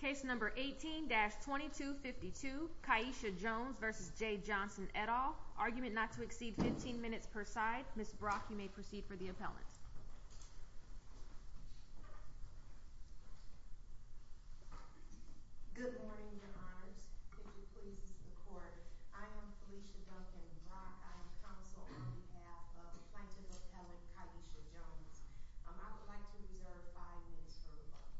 Case number 18-2252, Kiesha Jones v. Jeh Johnson, et al. Argument not to exceed 15 minutes per side. Ms. Brock, you may proceed for the appellant. Good morning, Your Honors. Could you please assist the Court? I am Felicia Duncan Brock. I am counsel on behalf of plaintiff appellant Kiesha Jones. I would like to reserve five minutes for rebuttal.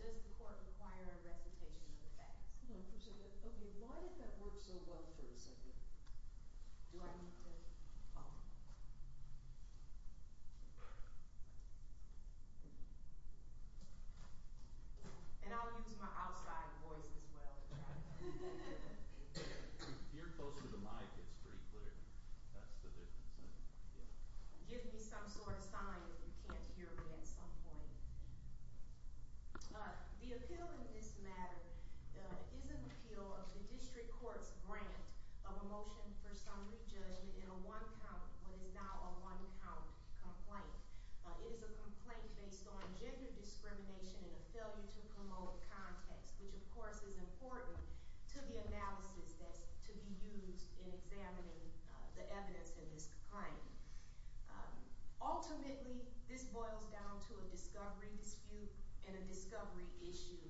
Does the Court require a recitation of the facts? No, Felicia. Okay, why did that work so well for a second? Do I need to? Oh. And I'll use my outside voice as well. If you're close to the mic, it's pretty clear. That's the difference. Give me some sort of sign if you can't hear me at some point. The appeal in this matter is an appeal of the district court's grant of a motion for summary judgment in a one-count, what is now a one-count, complaint. It is a complaint based on gender discrimination and a failure to promote context, which, of course, is important to the analysis that's to be used in examining the evidence in this complaint. Ultimately, this boils down to a discovery dispute and a discovery issue.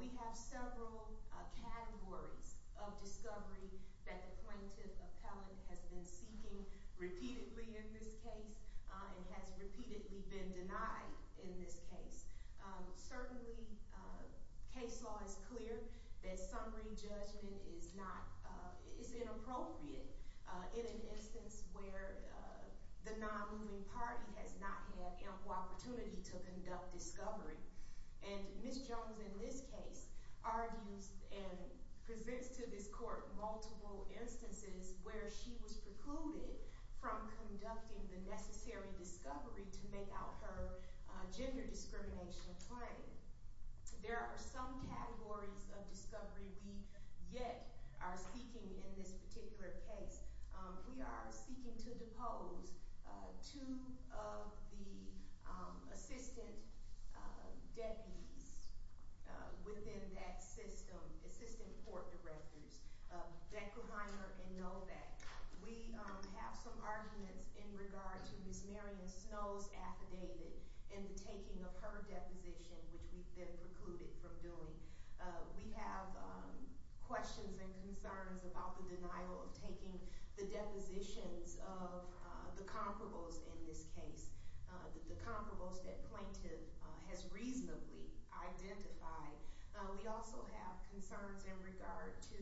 We have several categories of discovery that the plaintiff appellant has been seeking repeatedly in this case and has repeatedly been denied in this case. Certainly, case law is clear that summary judgment is not – is inappropriate in an instance where the non-moving party has not had ample opportunity to conduct discovery. And Ms. Jones, in this case, argues and presents to this court multiple instances where she was precluded from conducting the necessary discovery to make out her gender discrimination claim. There are some categories of discovery we yet are seeking in this particular case. We are seeking to depose two of the assistant deputies within that system, assistant court directors, Beckerheimer and Novak. We have some arguments in regard to Ms. Marion Snow's affidavit in the taking of her deposition, which we've been precluded from doing. We have questions and concerns about the denial of taking the depositions of the comparables in this case, the comparables that plaintiff has reasonably identified. We also have concerns in regard to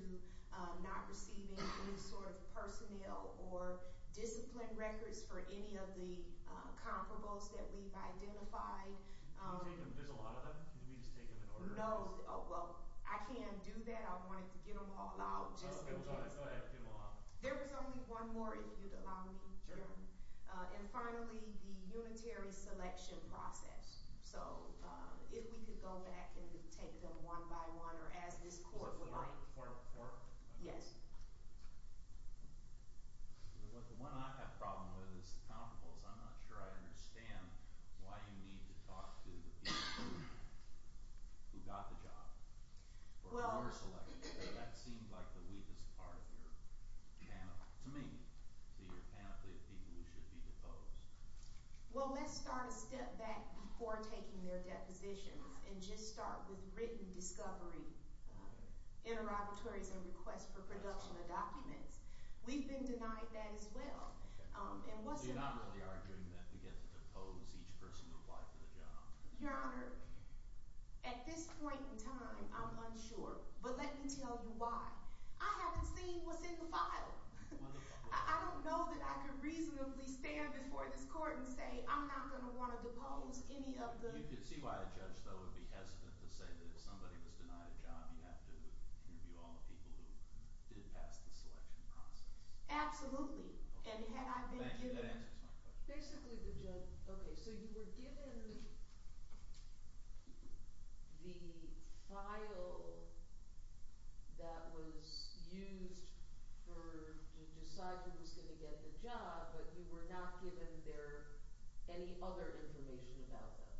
not receiving any sort of personnel or discipline records for any of the comparables that we've identified. There's a lot of them? Can we just take them in order? No. Oh, well, I can do that. I wanted to get them all out just in case. Okay. Go ahead. Get them all out. There was only one more, if you'd allow me. Sure. And finally, the unitary selection process. So if we could go back and take them one by one or as this court would like. So four at a time? Yes. The one I have a problem with is the comparables. I'm not sure I understand why you need to talk to the people who got the job or who are selected. That seems like the weakest part of your panel, to me, to your panel of people who should be deposed. Well, let's start a step back before taking their depositions and just start with written discovery, interrogatories, and requests for production of documents. We've been denied that as well. Okay. And what's the – So you're not really arguing that we get to depose each person who applied for the job? Your Honor, at this point in time, I'm unsure. But let me tell you why. I haven't seen what's in the file. Well, look – I don't know that I could reasonably stand before this court and say I'm not going to want to depose any of the – You can see why a judge, though, would be hesitant to say that if somebody was denied a job, you have to interview all the people who did pass the selection process. Absolutely. And had I been given – That answers my question. Okay. So you were given the file that was used for – to decide who was going to get the job, but you were not given their – any other information about them?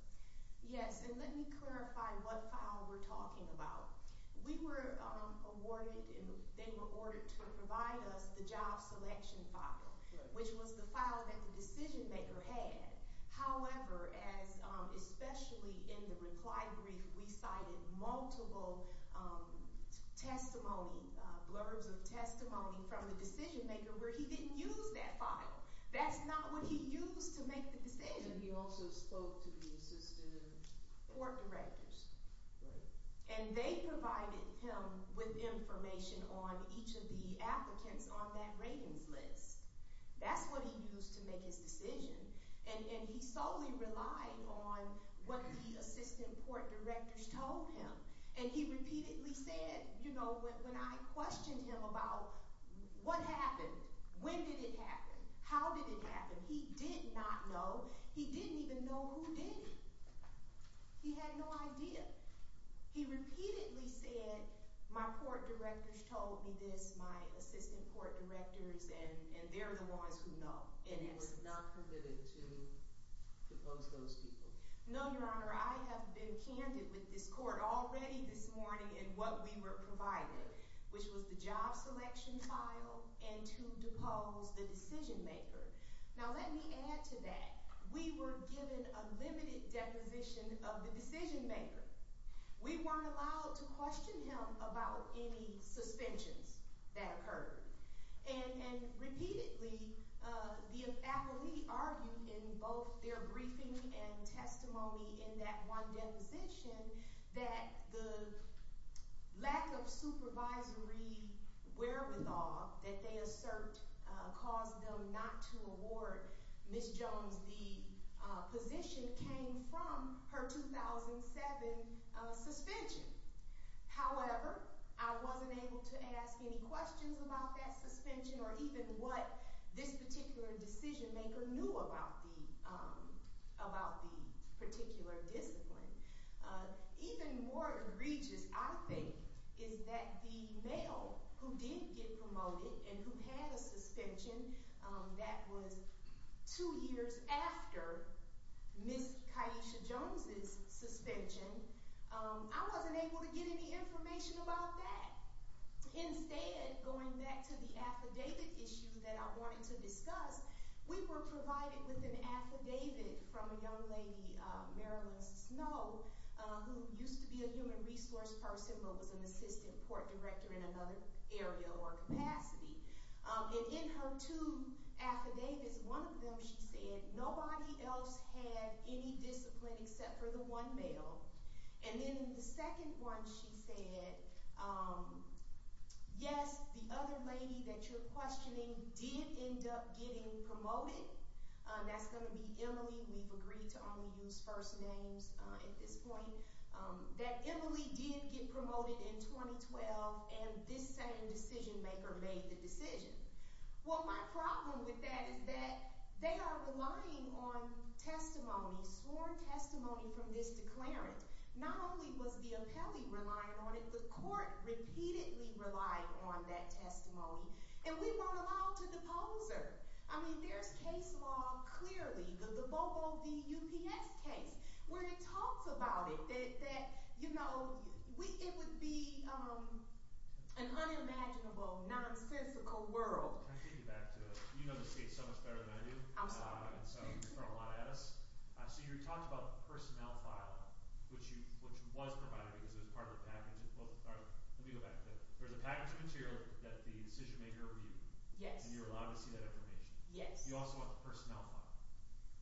Yes. And let me clarify what file we're talking about. We were awarded – they were awarded to provide us the job selection file, which was the file that the decision-maker had. However, as – especially in the reply brief, we cited multiple testimony – blurbs of testimony from the decision-maker where he didn't use that file. That's not what he used to make the decision. And he also spoke to the assistant – Court directors. Right. And they provided him with information on each of the applicants on that ratings list. That's what he used to make his decision. And he solely relied on what the assistant court directors told him. And he repeatedly said, you know, when I questioned him about what happened, when did it happen, how did it happen, he did not know. He didn't even know who did it. He had no idea. He repeatedly said, my court directors told me this, my assistant court directors, and they're the ones who know. And you were not permitted to depose those people? No, Your Honor. I have been candid with this court already this morning in what we were provided, which was the job selection file and to depose the decision-maker. Now, let me add to that. We were given a limited deposition of the decision-maker. We weren't allowed to question him about any suspensions that occurred. And repeatedly, the appellee argued in both their briefing and testimony in that one deposition that the lack of supervisory wherewithal that they assert caused them not to award Ms. Jones the position came from her 2007 suspension. However, I wasn't able to ask any questions about that suspension or even what this particular decision-maker knew about the particular discipline. Even more egregious, I think, is that the male who did get promoted and who had a suspension that was two years after Ms. Kaisha Jones' suspension, I wasn't able to get any information about that. Instead, going back to the affidavit issue that I wanted to discuss, we were provided with an affidavit from a young lady, Marilyn Snow, who used to be a human resource person but was an assistant port director in another area or capacity. And in her two affidavits, one of them she said, nobody else had any discipline except for the one male. And then in the second one she said, yes, the other lady that you're questioning did end up getting promoted. That's going to be Emily. We've agreed to only use first names at this point. That Emily did get promoted in 2012 and this same decision-maker made the decision. Well, my problem with that is that they are relying on testimony, sworn testimony from this declarant. Not only was the appellee relying on it, the court repeatedly relied on that testimony and we weren't allowed to depose her. I mean, there's case law clearly, the Bobo v. UPS case, where it talks about it, that, you know, it would be an unimaginable, nonsensical world. Can I take you back to – you know this case so much better than I do. I'm sorry. And so you've thrown a lot at us. So you talked about the personnel file, which was provided because it was part of the package. Let me go back to that. There was a package of material that the decision-maker reviewed. Yes. And you were allowed to see that information. Yes. You also want the personnel file.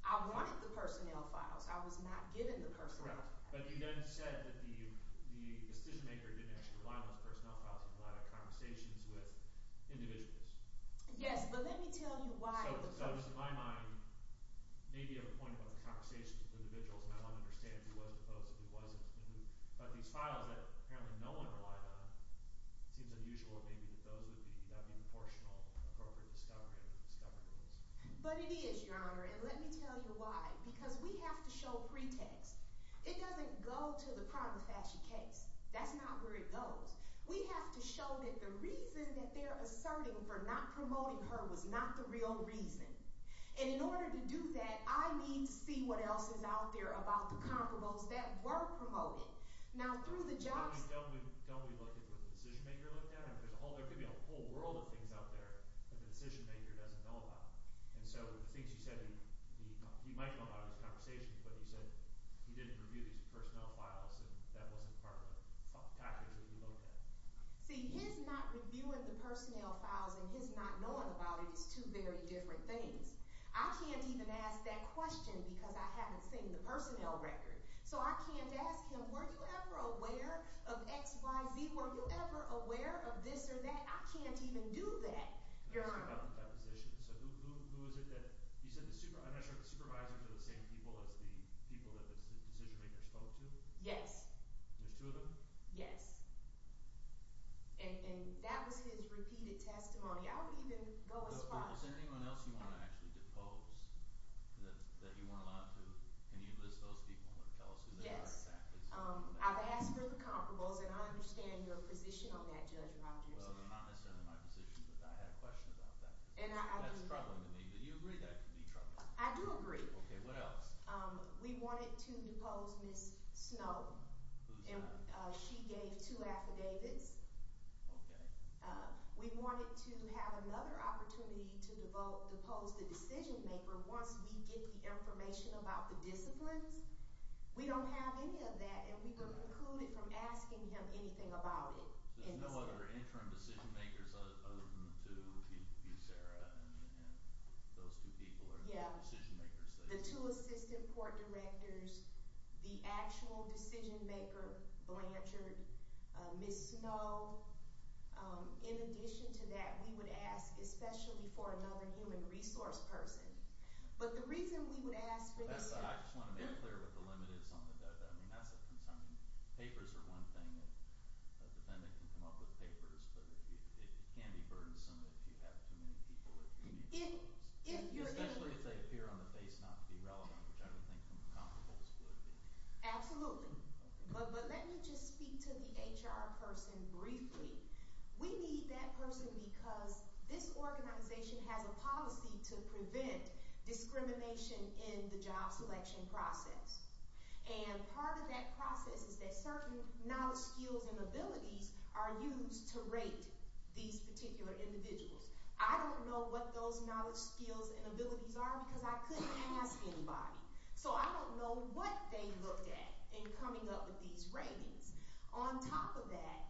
I wanted the personnel files. I was not given the personnel files. But you then said that the decision-maker didn't actually rely on those personnel files. He relied on conversations with individuals. Yes, but let me tell you why. So just in my mind, maybe you have a point about the conversations with individuals, and I don't understand if he was deposed, if he wasn't. But these files that apparently no one relied on, it seems unusual maybe that those would be – that would be proportional and appropriate discovery. But it is, Your Honor, and let me tell you why. Because we have to show pretext. It doesn't go to the prima facie case. That's not where it goes. We have to show that the reason that they're asserting for not promoting her was not the real reason. And in order to do that, I need to see what else is out there about the comparables that were promoted. Now, through the job – Don't we look at what the decision-maker looked at? There could be a whole world of things out there that the decision-maker doesn't know about. And so the things you said in the – you might know about in this conversation, but you said he didn't review these personnel files and that wasn't part of the package that he looked at. See, his not reviewing the personnel files and his not knowing about it is two very different things. I can't even ask that question because I haven't seen the personnel record. So I can't ask him, were you ever aware of XYZ? Were you ever aware of this or that? I can't even do that, Your Honor. So who is it that – you said the – I'm not sure if the supervisors are the same people as the people that the decision-maker spoke to? Yes. There's two of them? Yes. And that was his repeated testimony. I would even go as far as – Does anyone else you want to actually depose that you weren't allowed to? Can you list those people and tell us who they are? Yes. I've asked for the comparables, and I understand your position on that, Judge Rogers. Well, not necessarily my position, but I had a question about that. That's troubling to me. Do you agree that could be troubling? I do agree. Okay. What else? We wanted to depose Ms. Snow. Who's that? She gave two affidavits. Okay. We wanted to have another opportunity to depose the decision-maker once we get the information about the disciplines. We don't have any of that, and we were precluded from asking him anything about it. So there's no other interim decision-makers other than the two? You, Sarah, and those two people are the decision-makers? Yes. The two assistant court directors, the actual decision-maker Blanchard, Ms. Snow. In addition to that, we would ask especially for another human resource person. But the reason we would ask for the – I just want to make clear what the limit is on the debt. I mean, that's a concern. Papers are one thing. A defendant can come up with papers, but it can be burdensome if you have too many people. Especially if they appear on the face not to be relevant, which I don't think is as comfortable as it would be. Absolutely. But let me just speak to the HR person briefly. We need that person because this organization has a policy to prevent discrimination in the job selection process. And part of that process is that certain knowledge, skills, and abilities are used to rate these particular individuals. I don't know what those knowledge, skills, and abilities are because I couldn't ask anybody. So I don't know what they looked at in coming up with these ratings. On top of that,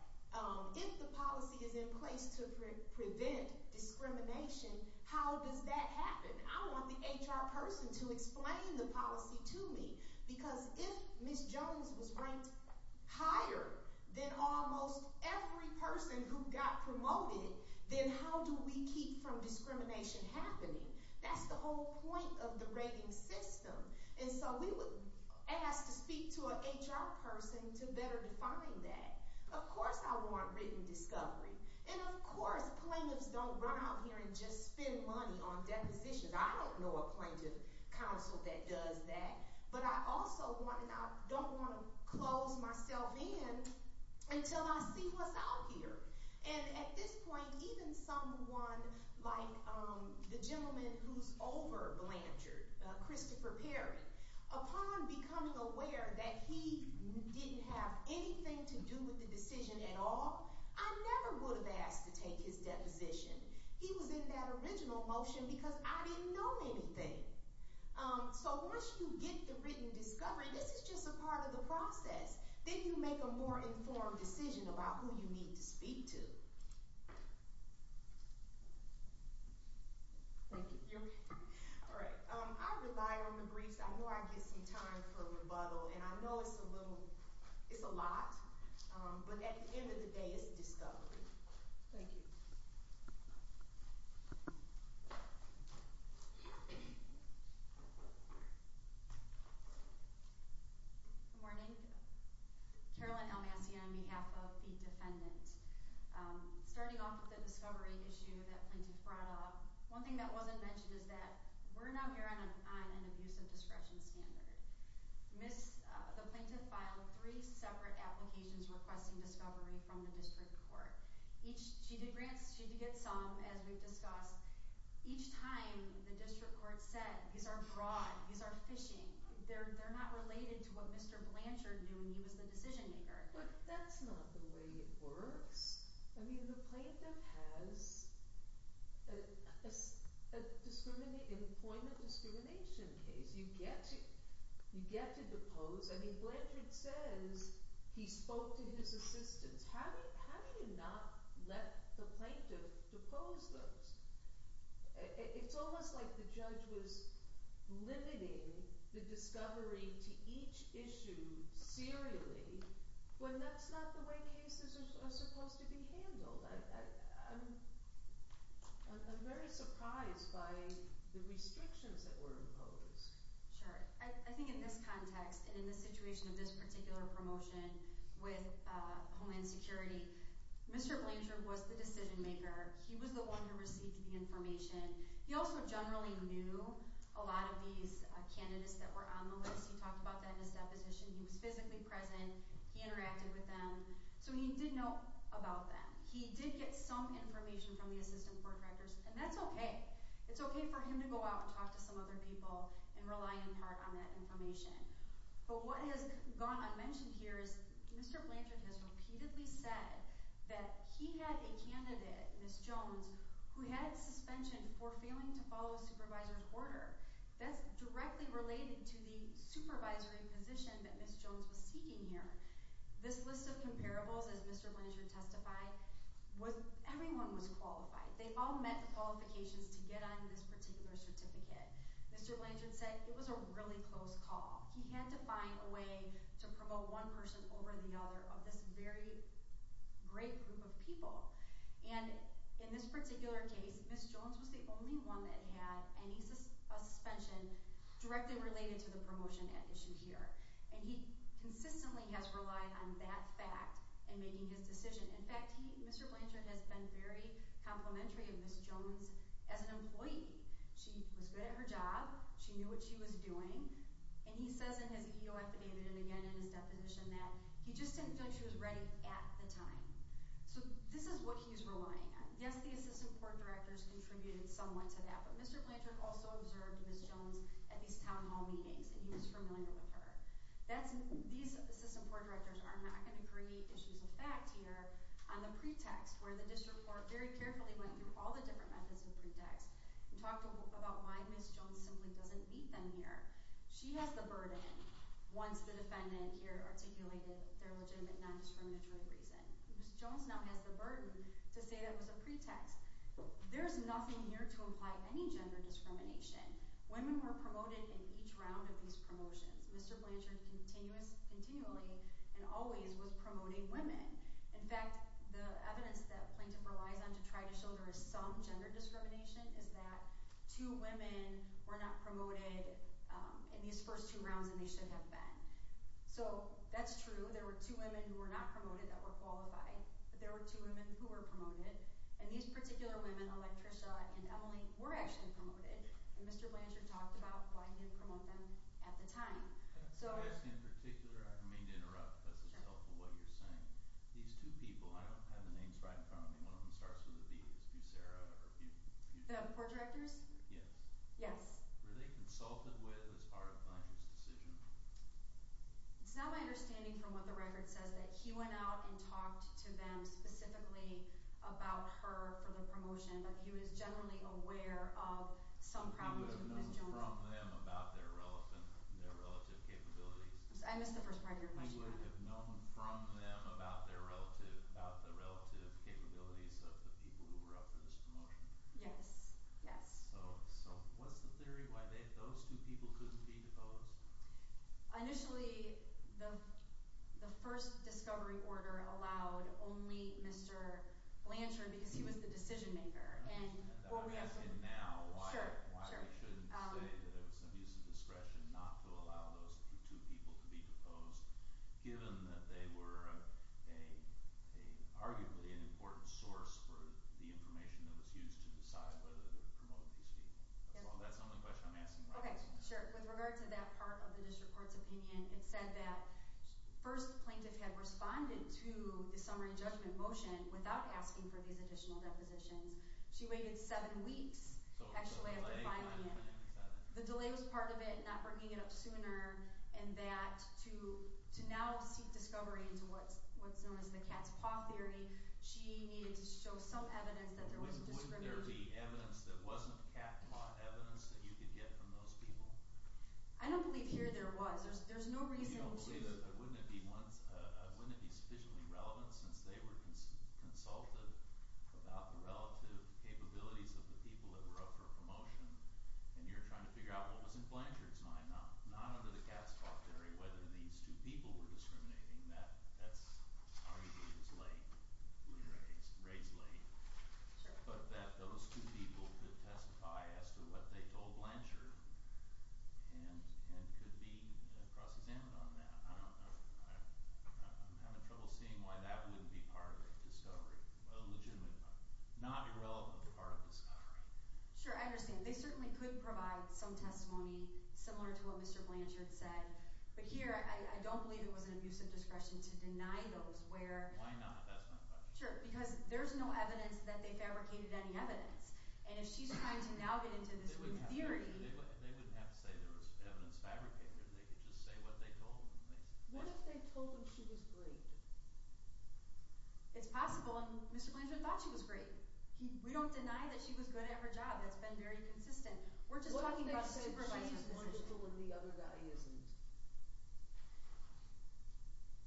if the policy is in place to prevent discrimination, how does that happen? I want the HR person to explain the policy to me. Because if Ms. Jones was ranked higher than almost every person who got promoted, then how do we keep from discrimination happening? That's the whole point of the rating system. And so we would ask to speak to an HR person to better define that. Of course I want written discovery. And of course plaintiffs don't run out here and just spend money on depositions. I don't know a plaintiff counsel that does that. But I also don't want to close myself in until I see what's out here. And at this point, even someone like the gentleman who's over Blanchard, Christopher Perry, upon becoming aware that he didn't have anything to do with the decision at all, I never would have asked to take his deposition. He was in that original motion because I didn't know anything. So once you get the written discovery, this is just a part of the process. Then you make a more informed decision about who you need to speak to. Thank you. You're welcome. All right. I rely on the briefs. I know I get some time for rebuttal. And I know it's a little – it's a lot. But at the end of the day, it's discovery. Thank you. Good morning. Carolyn L. Massey on behalf of the defendant. Starting off with the discovery issue that plaintiff brought up, one thing that wasn't mentioned is that we're now here on an abusive discretion standard. The plaintiff filed three separate applications requesting discovery from the district court. She did get some, as we've discussed. Each time, the district court said, these are fraud. These are phishing. They're not related to what Mr. Blanchard knew when he was the decision-maker. But that's not the way it works. I mean, the plaintiff has an employment discrimination case. You get to depose. I mean, Blanchard says he spoke to his assistants. How do you not let the plaintiff depose those? It's almost like the judge was limiting the discovery to each issue serially when that's not the way cases are supposed to be handled. I'm very surprised by the restrictions that were imposed. Sure. I think in this context and in the situation of this particular promotion with Homeland Security, Mr. Blanchard was the decision-maker. He was the one who received the information. He also generally knew a lot of these candidates that were on the list. He talked about that in his deposition. He was physically present. He interacted with them. So he did know about them. He did get some information from the assistant court directors, and that's okay. It's okay for him to go out and talk to some other people and rely in part on that information. But what has gone unmentioned here is Mr. Blanchard has repeatedly said that he had a candidate, Ms. Jones, who had suspension for failing to follow a supervisor's order. That's directly related to the supervisory position that Ms. Jones was seeking here. This list of comparables, as Mr. Blanchard testified, everyone was qualified. They all met the qualifications to get on this particular certificate. Mr. Blanchard said it was a really close call. He had to find a way to promote one person over the other of this very great group of people. And in this particular case, Ms. Jones was the only one that had any suspension directly related to the promotion at issue here. And he consistently has relied on that fact in making his decision. In fact, Mr. Blanchard has been very complimentary of Ms. Jones as an employee. She was good at her job. She knew what she was doing. And he says in his EO affidavit and again in his deposition that he just didn't feel like she was ready at the time. So this is what he's relying on. Yes, the assistant board directors contributed somewhat to that. But Mr. Blanchard also observed Ms. Jones at these town hall meetings, and he was familiar with her. These assistant board directors are not going to create issues of fact here on the pretext, where the district court very carefully went through all the different methods of pretext and talked about why Ms. Jones simply doesn't meet them here. She has the burden, once the defendant here articulated their legitimate non-discriminatory reason. Ms. Jones now has the burden to say that was a pretext. There's nothing here to imply any gender discrimination. Women were promoted in each round of these promotions. Mr. Blanchard continuously and always was promoting women. In fact, the evidence that plaintiff relies on to try to show there is some gender discrimination is that two women were not promoted in these first two rounds, and they should have been. So that's true. There were two women who were not promoted that were qualified, but there were two women who were promoted. And these particular women, Electricia and Emily, were actually promoted. And Mr. Blanchard talked about why he didn't promote them at the time. In particular, I don't mean to interrupt because it's helpful what you're saying. These two people, I don't have the names right in front of me. One of them starts with a B. Is it Fusara? The report directors? Yes. Yes. Were they consulted with as part of Blanchard's decision? It's not my understanding from what the record says that he went out and talked to them specifically about her for the promotion, but he was generally aware of some problems with Ms. Jones. He would have known from them about their relative capabilities. I missed the first part of your question. He would have known from them about the relative capabilities of the people who were up for this promotion. Yes. Yes. So what's the theory why those two people couldn't be deposed? Initially, the first discovery order allowed only Mr. Blanchard because he was the decision maker. I'm asking now why they shouldn't say that it was an abuse of discretion not to allow those two people to be deposed given that they were arguably an important source for the information that was used to decide whether to promote these people. That's the only question I'm asking. Okay, sure. With regard to that part of the district court's opinion, it said that first the plaintiff had responded to the summary judgment motion without asking for these additional depositions. She waited seven weeks, actually, after filing it. The delay was part of it, not bringing it up sooner, and that to now seek discovery into what's known as the cat's paw theory, she needed to show some evidence that there wasn't discrimination. Wouldn't there be evidence that wasn't cat paw evidence that you could get from those people? I don't believe here there was. There's no reason to – You don't believe it? Wouldn't it be sufficiently relevant since they were consulted about the relative capabilities of the people that were up for promotion? And you're trying to figure out what was in Blanchard's mind, not under the cat's paw theory, whether these two people were discriminating. I'm not saying that that's – I already believe it's late. We raised late. But that those two people could testify as to what they told Blanchard and could be cross-examined on that, I don't know. I'm having trouble seeing why that wouldn't be part of a discovery, a legitimate part, not irrelevant part of a discovery. Sure, I understand. They certainly could provide some testimony similar to what Mr. Blanchard said. But here I don't believe it was an abuse of discretion to deny those where – Why not? That's my question. Sure, because there's no evidence that they fabricated any evidence. And if she's trying to now get into this theory – They wouldn't have to say there was evidence fabricated. They could just say what they told them. What if they told them she was great? It's possible. And Mr. Blanchard thought she was great. We don't deny that she was good at her job. That's been very consistent. We're just talking about supervising the system. What if they say she's wonderful and the other guy isn't?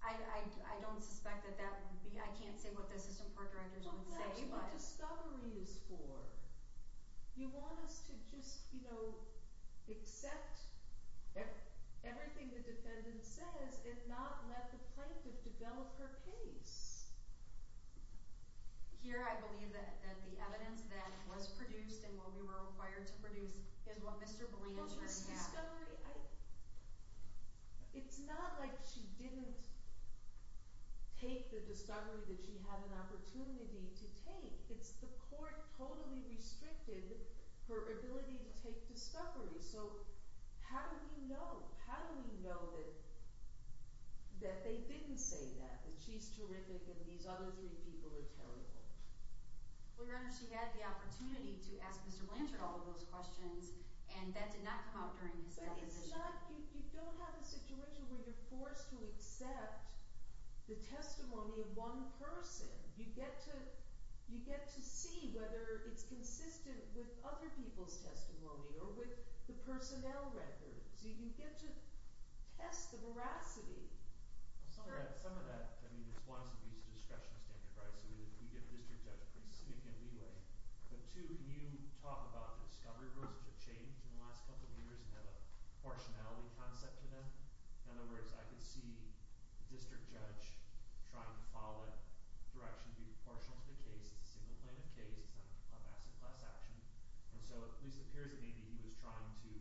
I don't suspect that that would be – I can't say what the system court directors would say, but – Well, that's what discovery is for. You want us to just, you know, accept everything the defendant says and not let the plaintiff develop her case. Here I believe that the evidence that was produced and what we were required to produce is what Mr. Blanchard had. It's not like she didn't take the discovery that she had an opportunity to take. It's the court totally restricted her ability to take discovery. So how do we know? How do we know that they didn't say that, that she's terrific and these other three people are terrible? Well, Your Honor, she had the opportunity to ask Mr. Blanchard all of those questions, and that did not come up during his deposition. But it's not – you don't have a situation where you're forced to accept the testimony of one person. You get to see whether it's consistent with other people's testimony or with the personnel records. So you can get to test the veracity of some of that. Some of that – I mean, it's one, it's at least a discretion of standard rights. So you get a district judge pretty significant leeway. But two, you talk about the discovery rules have changed in the last couple of years and have a proportionality concept to them. In other words, I can see the district judge trying to follow that direction to be proportional to the case. It's a single plaintiff case. It's not a class action. And so it at least appears that maybe he was trying to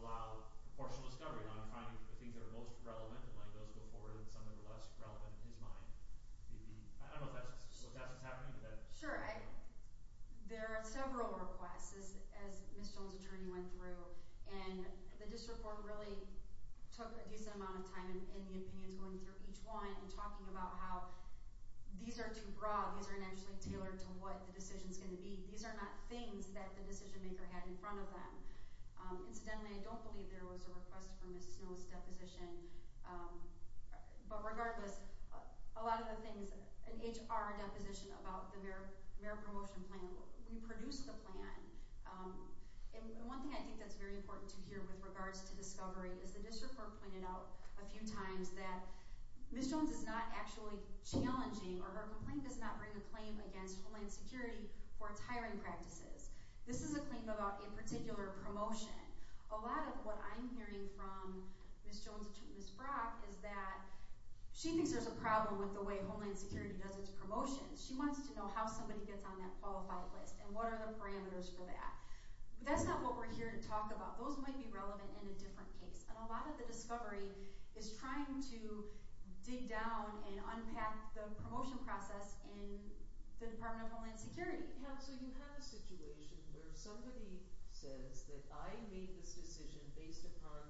allow proportional discovery on finding the things that are most relevant, like those before, and some that are less relevant in his mind. Maybe – I don't know if that's what's happening. Sure. There are several requests, as Ms. Jones' attorney went through. And the district court really took a decent amount of time in the opinions going through each one and talking about how these are too broad. These are not actually tailored to what the decision is going to be. These are not things that the decision-maker had in front of them. Incidentally, I don't believe there was a request for Ms. Snow's deposition. But regardless, a lot of the things – an HR deposition about the merit promotion plan, we produced the plan. And one thing I think that's very important to hear with regards to discovery is the district court pointed out a few times that Ms. Jones is not actually challenging or her complaint does not bring a claim against Homeland Security for its hiring practices. This is a claim about a particular promotion. A lot of what I'm hearing from Ms. Jones and Ms. Brock is that she thinks there's a problem with the way Homeland Security does its promotions. She wants to know how somebody gets on that qualified list and what are the parameters for that. That's not what we're here to talk about. Those might be relevant in a different case. And a lot of the discovery is trying to dig down and unpack the promotion process in the Department of Homeland Security. So you have a situation where somebody says that I made this decision based upon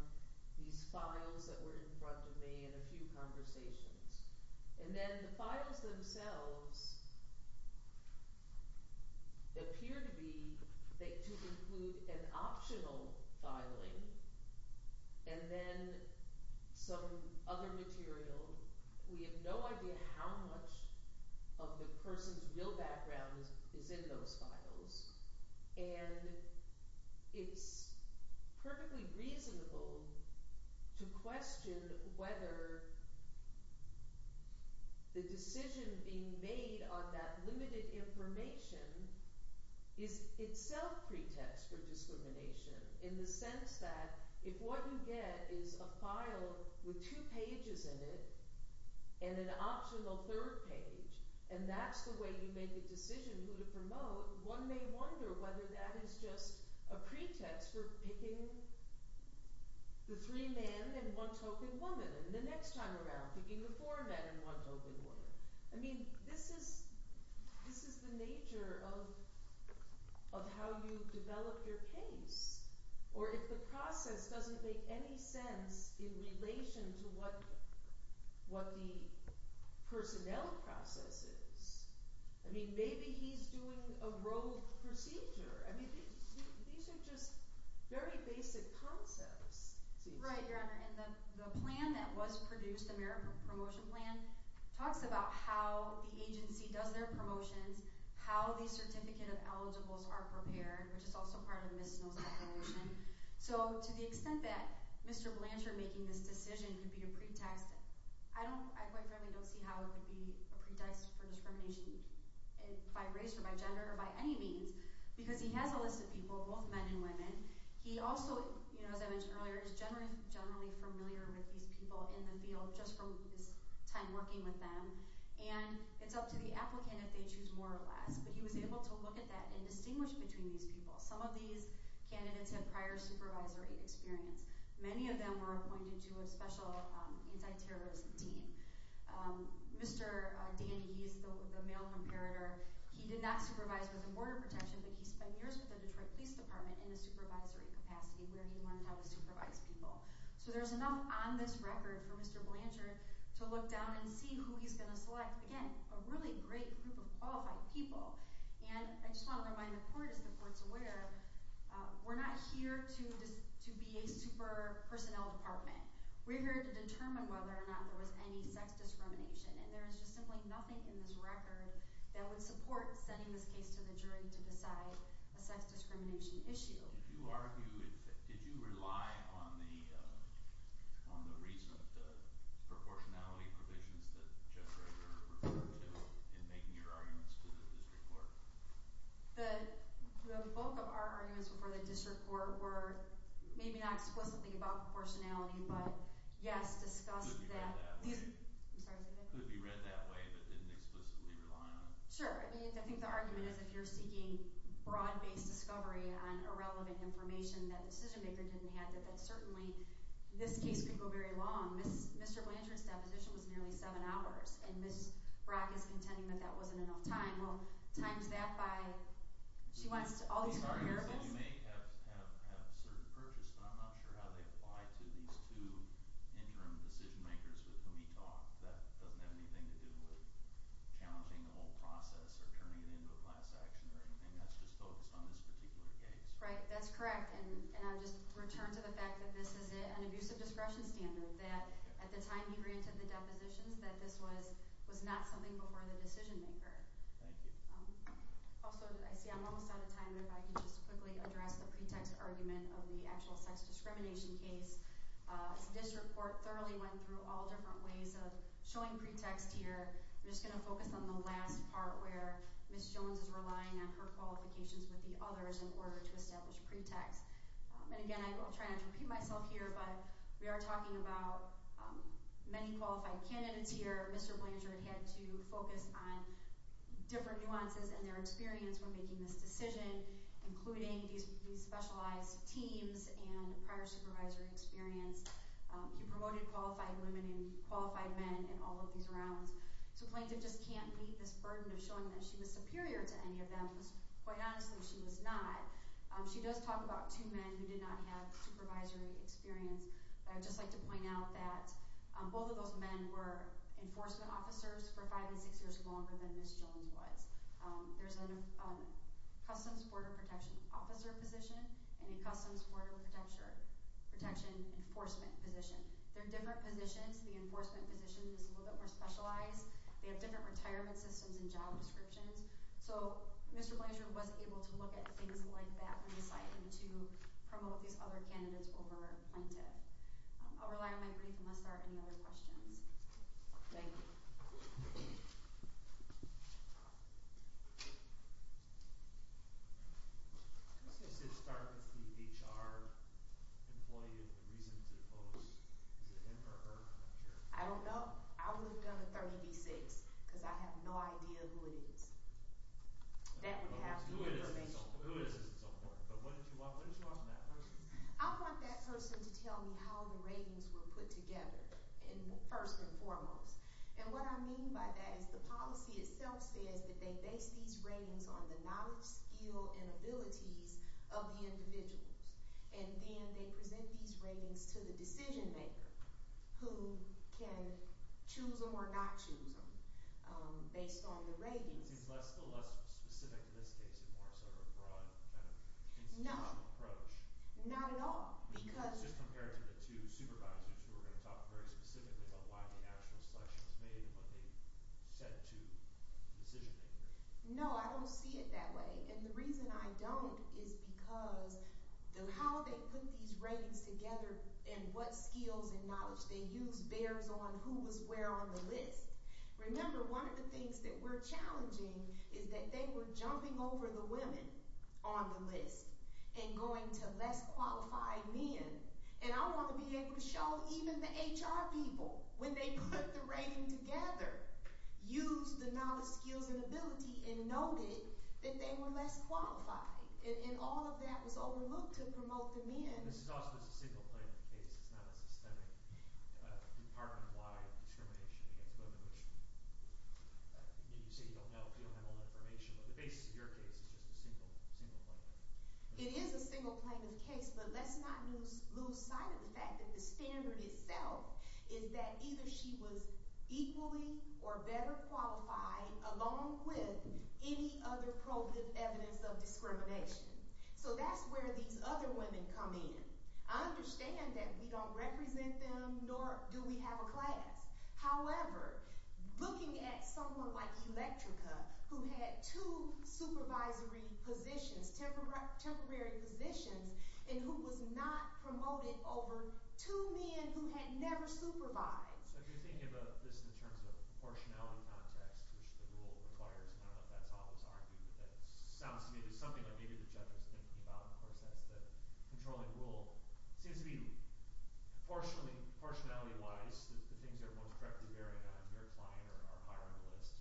these files that were in front of me and a few conversations. And then the files themselves appear to be – to include an optional filing and then some other material. We have no idea how much of the person's real background is in those files. And it's perfectly reasonable to question whether the decision being made on that limited information is itself pretext for discrimination in the sense that if what you get is a file with two pages in it and an optional third page, and that's the way you make a decision who to promote, one may wonder whether that is just a pretext for picking the three men and one token woman and the next time around picking the four men and one token woman. I mean, this is the nature of how you develop your case. Or if the process doesn't make any sense in relation to what the personnel process is. I mean, maybe he's doing a rogue procedure. I mean, these are just very basic concepts. Right, Your Honor. And the plan that was produced, the Merit Promotion Plan, talks about how the agency does their promotions, how the certificate of eligibles are prepared, which is also part of Ms. Snow's declaration. So to the extent that Mr. Blanchard making this decision could be a pretext, I quite frankly don't see how it could be a pretext for discrimination by race or by gender or by any means because he has a list of people, both men and women. He also, as I mentioned earlier, is generally familiar with these people in the field just from his time working with them. And it's up to the applicant if they choose more or less. But he was able to look at that and distinguish between these people. Some of these candidates have prior supervisory experience. Many of them were appointed to a special anti-terrorism team. Mr. Dandy, he's the male comparator, he did not supervise with the Border Protection, but he spent years with the Detroit Police Department in a supervisory capacity where he learned how to supervise people. So there's enough on this record for Mr. Blanchard to look down and see who he's going to select. Again, a really great group of qualified people. And I just want to remind the court, as the court's aware, we're not here to be a super personnel department. We're here to determine whether or not there was any sex discrimination. And there is just simply nothing in this record that would support sending this case to the jury to decide a sex discrimination issue. So did you argue, did you rely on the recent proportionality provisions that Judge Rager referred to in making your arguments to the district court? The bulk of our arguments before the district court were maybe not explicitly about proportionality, but yes, discussed that. Could be read that way, but didn't explicitly rely on it? Sure. I mean, I think the argument is if you're seeking broad-based discovery on irrelevant information that the decision-maker didn't have, that certainly this case could go very long. Mr. Blanchard's deposition was nearly seven hours, and Ms. Brock is contending that that wasn't enough time. Well, times that by—she wants all these— These arguments that you make have certain purchase, but I'm not sure how they apply to these two interim decision-makers with whom he talked. That doesn't have anything to do with challenging the whole process or turning it into a class action or anything. That's just focused on this particular case. Right. That's correct. And I'll just return to the fact that this is an abusive discretion standard, that at the time he granted the depositions that this was not something before the decision-maker. Thank you. Also, I see I'm almost out of time, but if I could just quickly address the pretext argument of the actual sex discrimination case. This report thoroughly went through all different ways of showing pretext here. I'm just going to focus on the last part, where Ms. Jones is relying on her qualifications with the others in order to establish pretext. And, again, I will try not to repeat myself here, but we are talking about many qualified candidates here. Mr. Blanchard had to focus on different nuances in their experience when making this decision, including these specialized teams and prior supervisory experience. He promoted qualified women and qualified men in all of these rounds. So Plaintiff just can't meet this burden of showing that she was superior to any of them. Quite honestly, she was not. She does talk about two men who did not have supervisory experience. I would just like to point out that both of those men were enforcement officers for five and six years longer than Ms. Jones was. There's a Customs Border Protection Officer position and a Customs Border Protection Enforcement position. They're different positions. The Enforcement position is a little bit more specialized. They have different retirement systems and job descriptions. So Mr. Blanchard was able to look at things like that when deciding to promote these other candidates over Plaintiff. I'll rely on my brief unless there are any other questions. Thank you. I don't know. I would have done a 30 v. 6 because I have no idea who it is. That would have information. But what did you want from that person? I want that person to tell me how the ratings were put together first and foremost. And what I mean by that is the policy itself says that they base these ratings on the knowledge, skill, and abilities of the individuals. And then they present these ratings to the decision-maker who can choose them or not choose them based on the ratings. It seems less and less specific in this case and more sort of a broad kind of institutional approach. No, not at all. Just compared to the two supervisors who were going to talk very specifically about why the actual selection was made and what they said to the decision-makers. No, I don't see it that way. And the reason I don't is because how they put these ratings together and what skills and knowledge. They used bears on who was where on the list. Remember, one of the things that we're challenging is that they were jumping over the women on the list and going to less qualified men. And I want to be able to show even the HR people, when they put the rating together, used the knowledge, skills, and ability and noted that they were less qualified. And all of that was overlooked to promote the men. And this is also just a single plaintiff case. It's not a systemic department-wide discrimination against women, which you say you don't know if you don't have all the information. But the basis of your case is just a single plaintiff. It is a single plaintiff case, but let's not lose sight of the fact that the standard itself is that either she was equally or better qualified along with any other probative evidence of discrimination. So that's where these other women come in. I understand that we don't represent them, nor do we have a class. However, looking at someone like Electrica, who had two supervisory positions, temporary positions, and who was not promoted over two men who had never supervised. So if you're thinking about this in terms of proportionality context, which the rule requires, and I don't know if that's always argued, but that sounds to me to be something that maybe the judge was thinking about. Of course, that's the controlling rule. It seems to me proportionally – proportionality-wise, the things that are most correctly bearing on your client are higher on the list.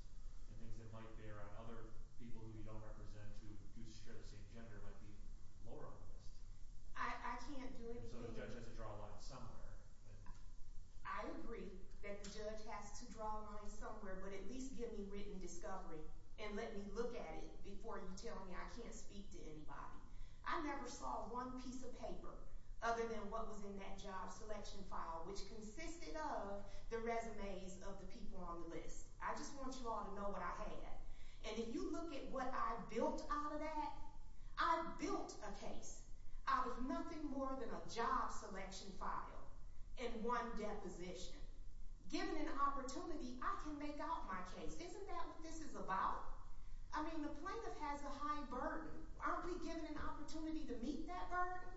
And things that might bear on other people who you don't represent who do share the same gender might be lower on the list. I can't do anything – And so the judge has to draw a line somewhere. I agree that the judge has to draw a line somewhere, but at least give me written discovery and let me look at it before you tell me I can't speak to anybody. I never saw one piece of paper other than what was in that job selection file, which consisted of the resumes of the people on the list. I just want you all to know what I had. And if you look at what I built out of that, I built a case out of nothing more than a job selection file and one deposition. Given an opportunity, I can make out my case. Isn't that what this is about? I mean, the plaintiff has a high burden. Aren't we given an opportunity to meet that burden?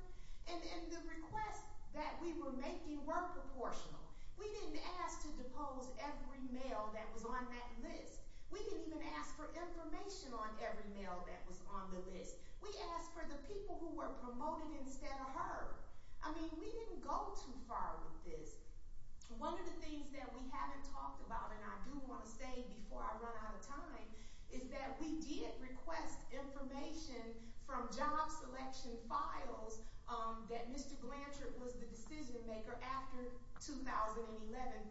And the requests that we were making were proportional. We didn't ask to depose every male that was on that list. We didn't even ask for information on every male that was on the list. We asked for the people who were promoted instead of her. I mean, we didn't go too far with this. One of the things that we haven't talked about, and I do want to say before I run out of time, is that we did request information from job selection files that Mr. Glantrick was the decision maker after 2011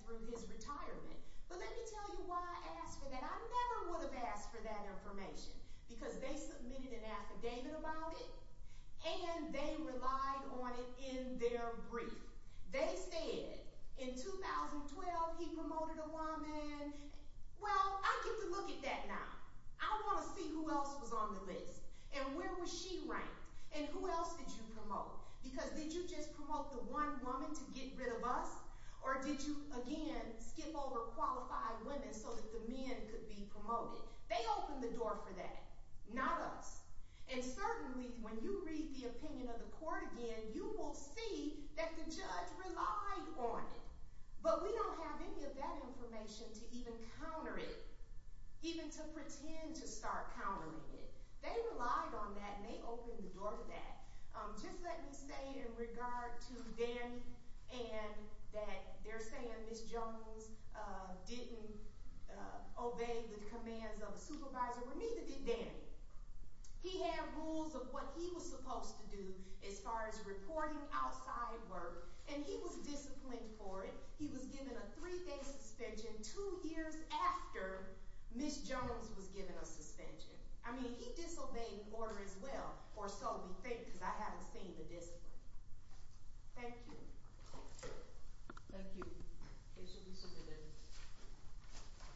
through his retirement. But let me tell you why I asked for that. I never would have asked for that information because they submitted an affidavit about it, and they relied on it in their brief. They said in 2012 he promoted a woman. Well, I get to look at that now. I want to see who else was on the list, and where was she ranked, and who else did you promote? Because did you just promote the one woman to get rid of us, or did you, again, skip over qualified women so that the men could be promoted? They opened the door for that, not us. And certainly when you read the opinion of the court again, you will see that the judge relied on it. But we don't have any of that information to even counter it, even to pretend to start countering it. They relied on that, and they opened the door for that. Just let me say in regard to Danny and that they're saying Ms. Jones didn't obey the commands of a supervisor, but neither did Danny. He had rules of what he was supposed to do as far as reporting outside work, and he was disciplined for it. He was given a three-day suspension two years after Ms. Jones was given a suspension. I mean, he disobeyed the order as well, or so we think because I haven't seen the discipline. Thank you. Thank you.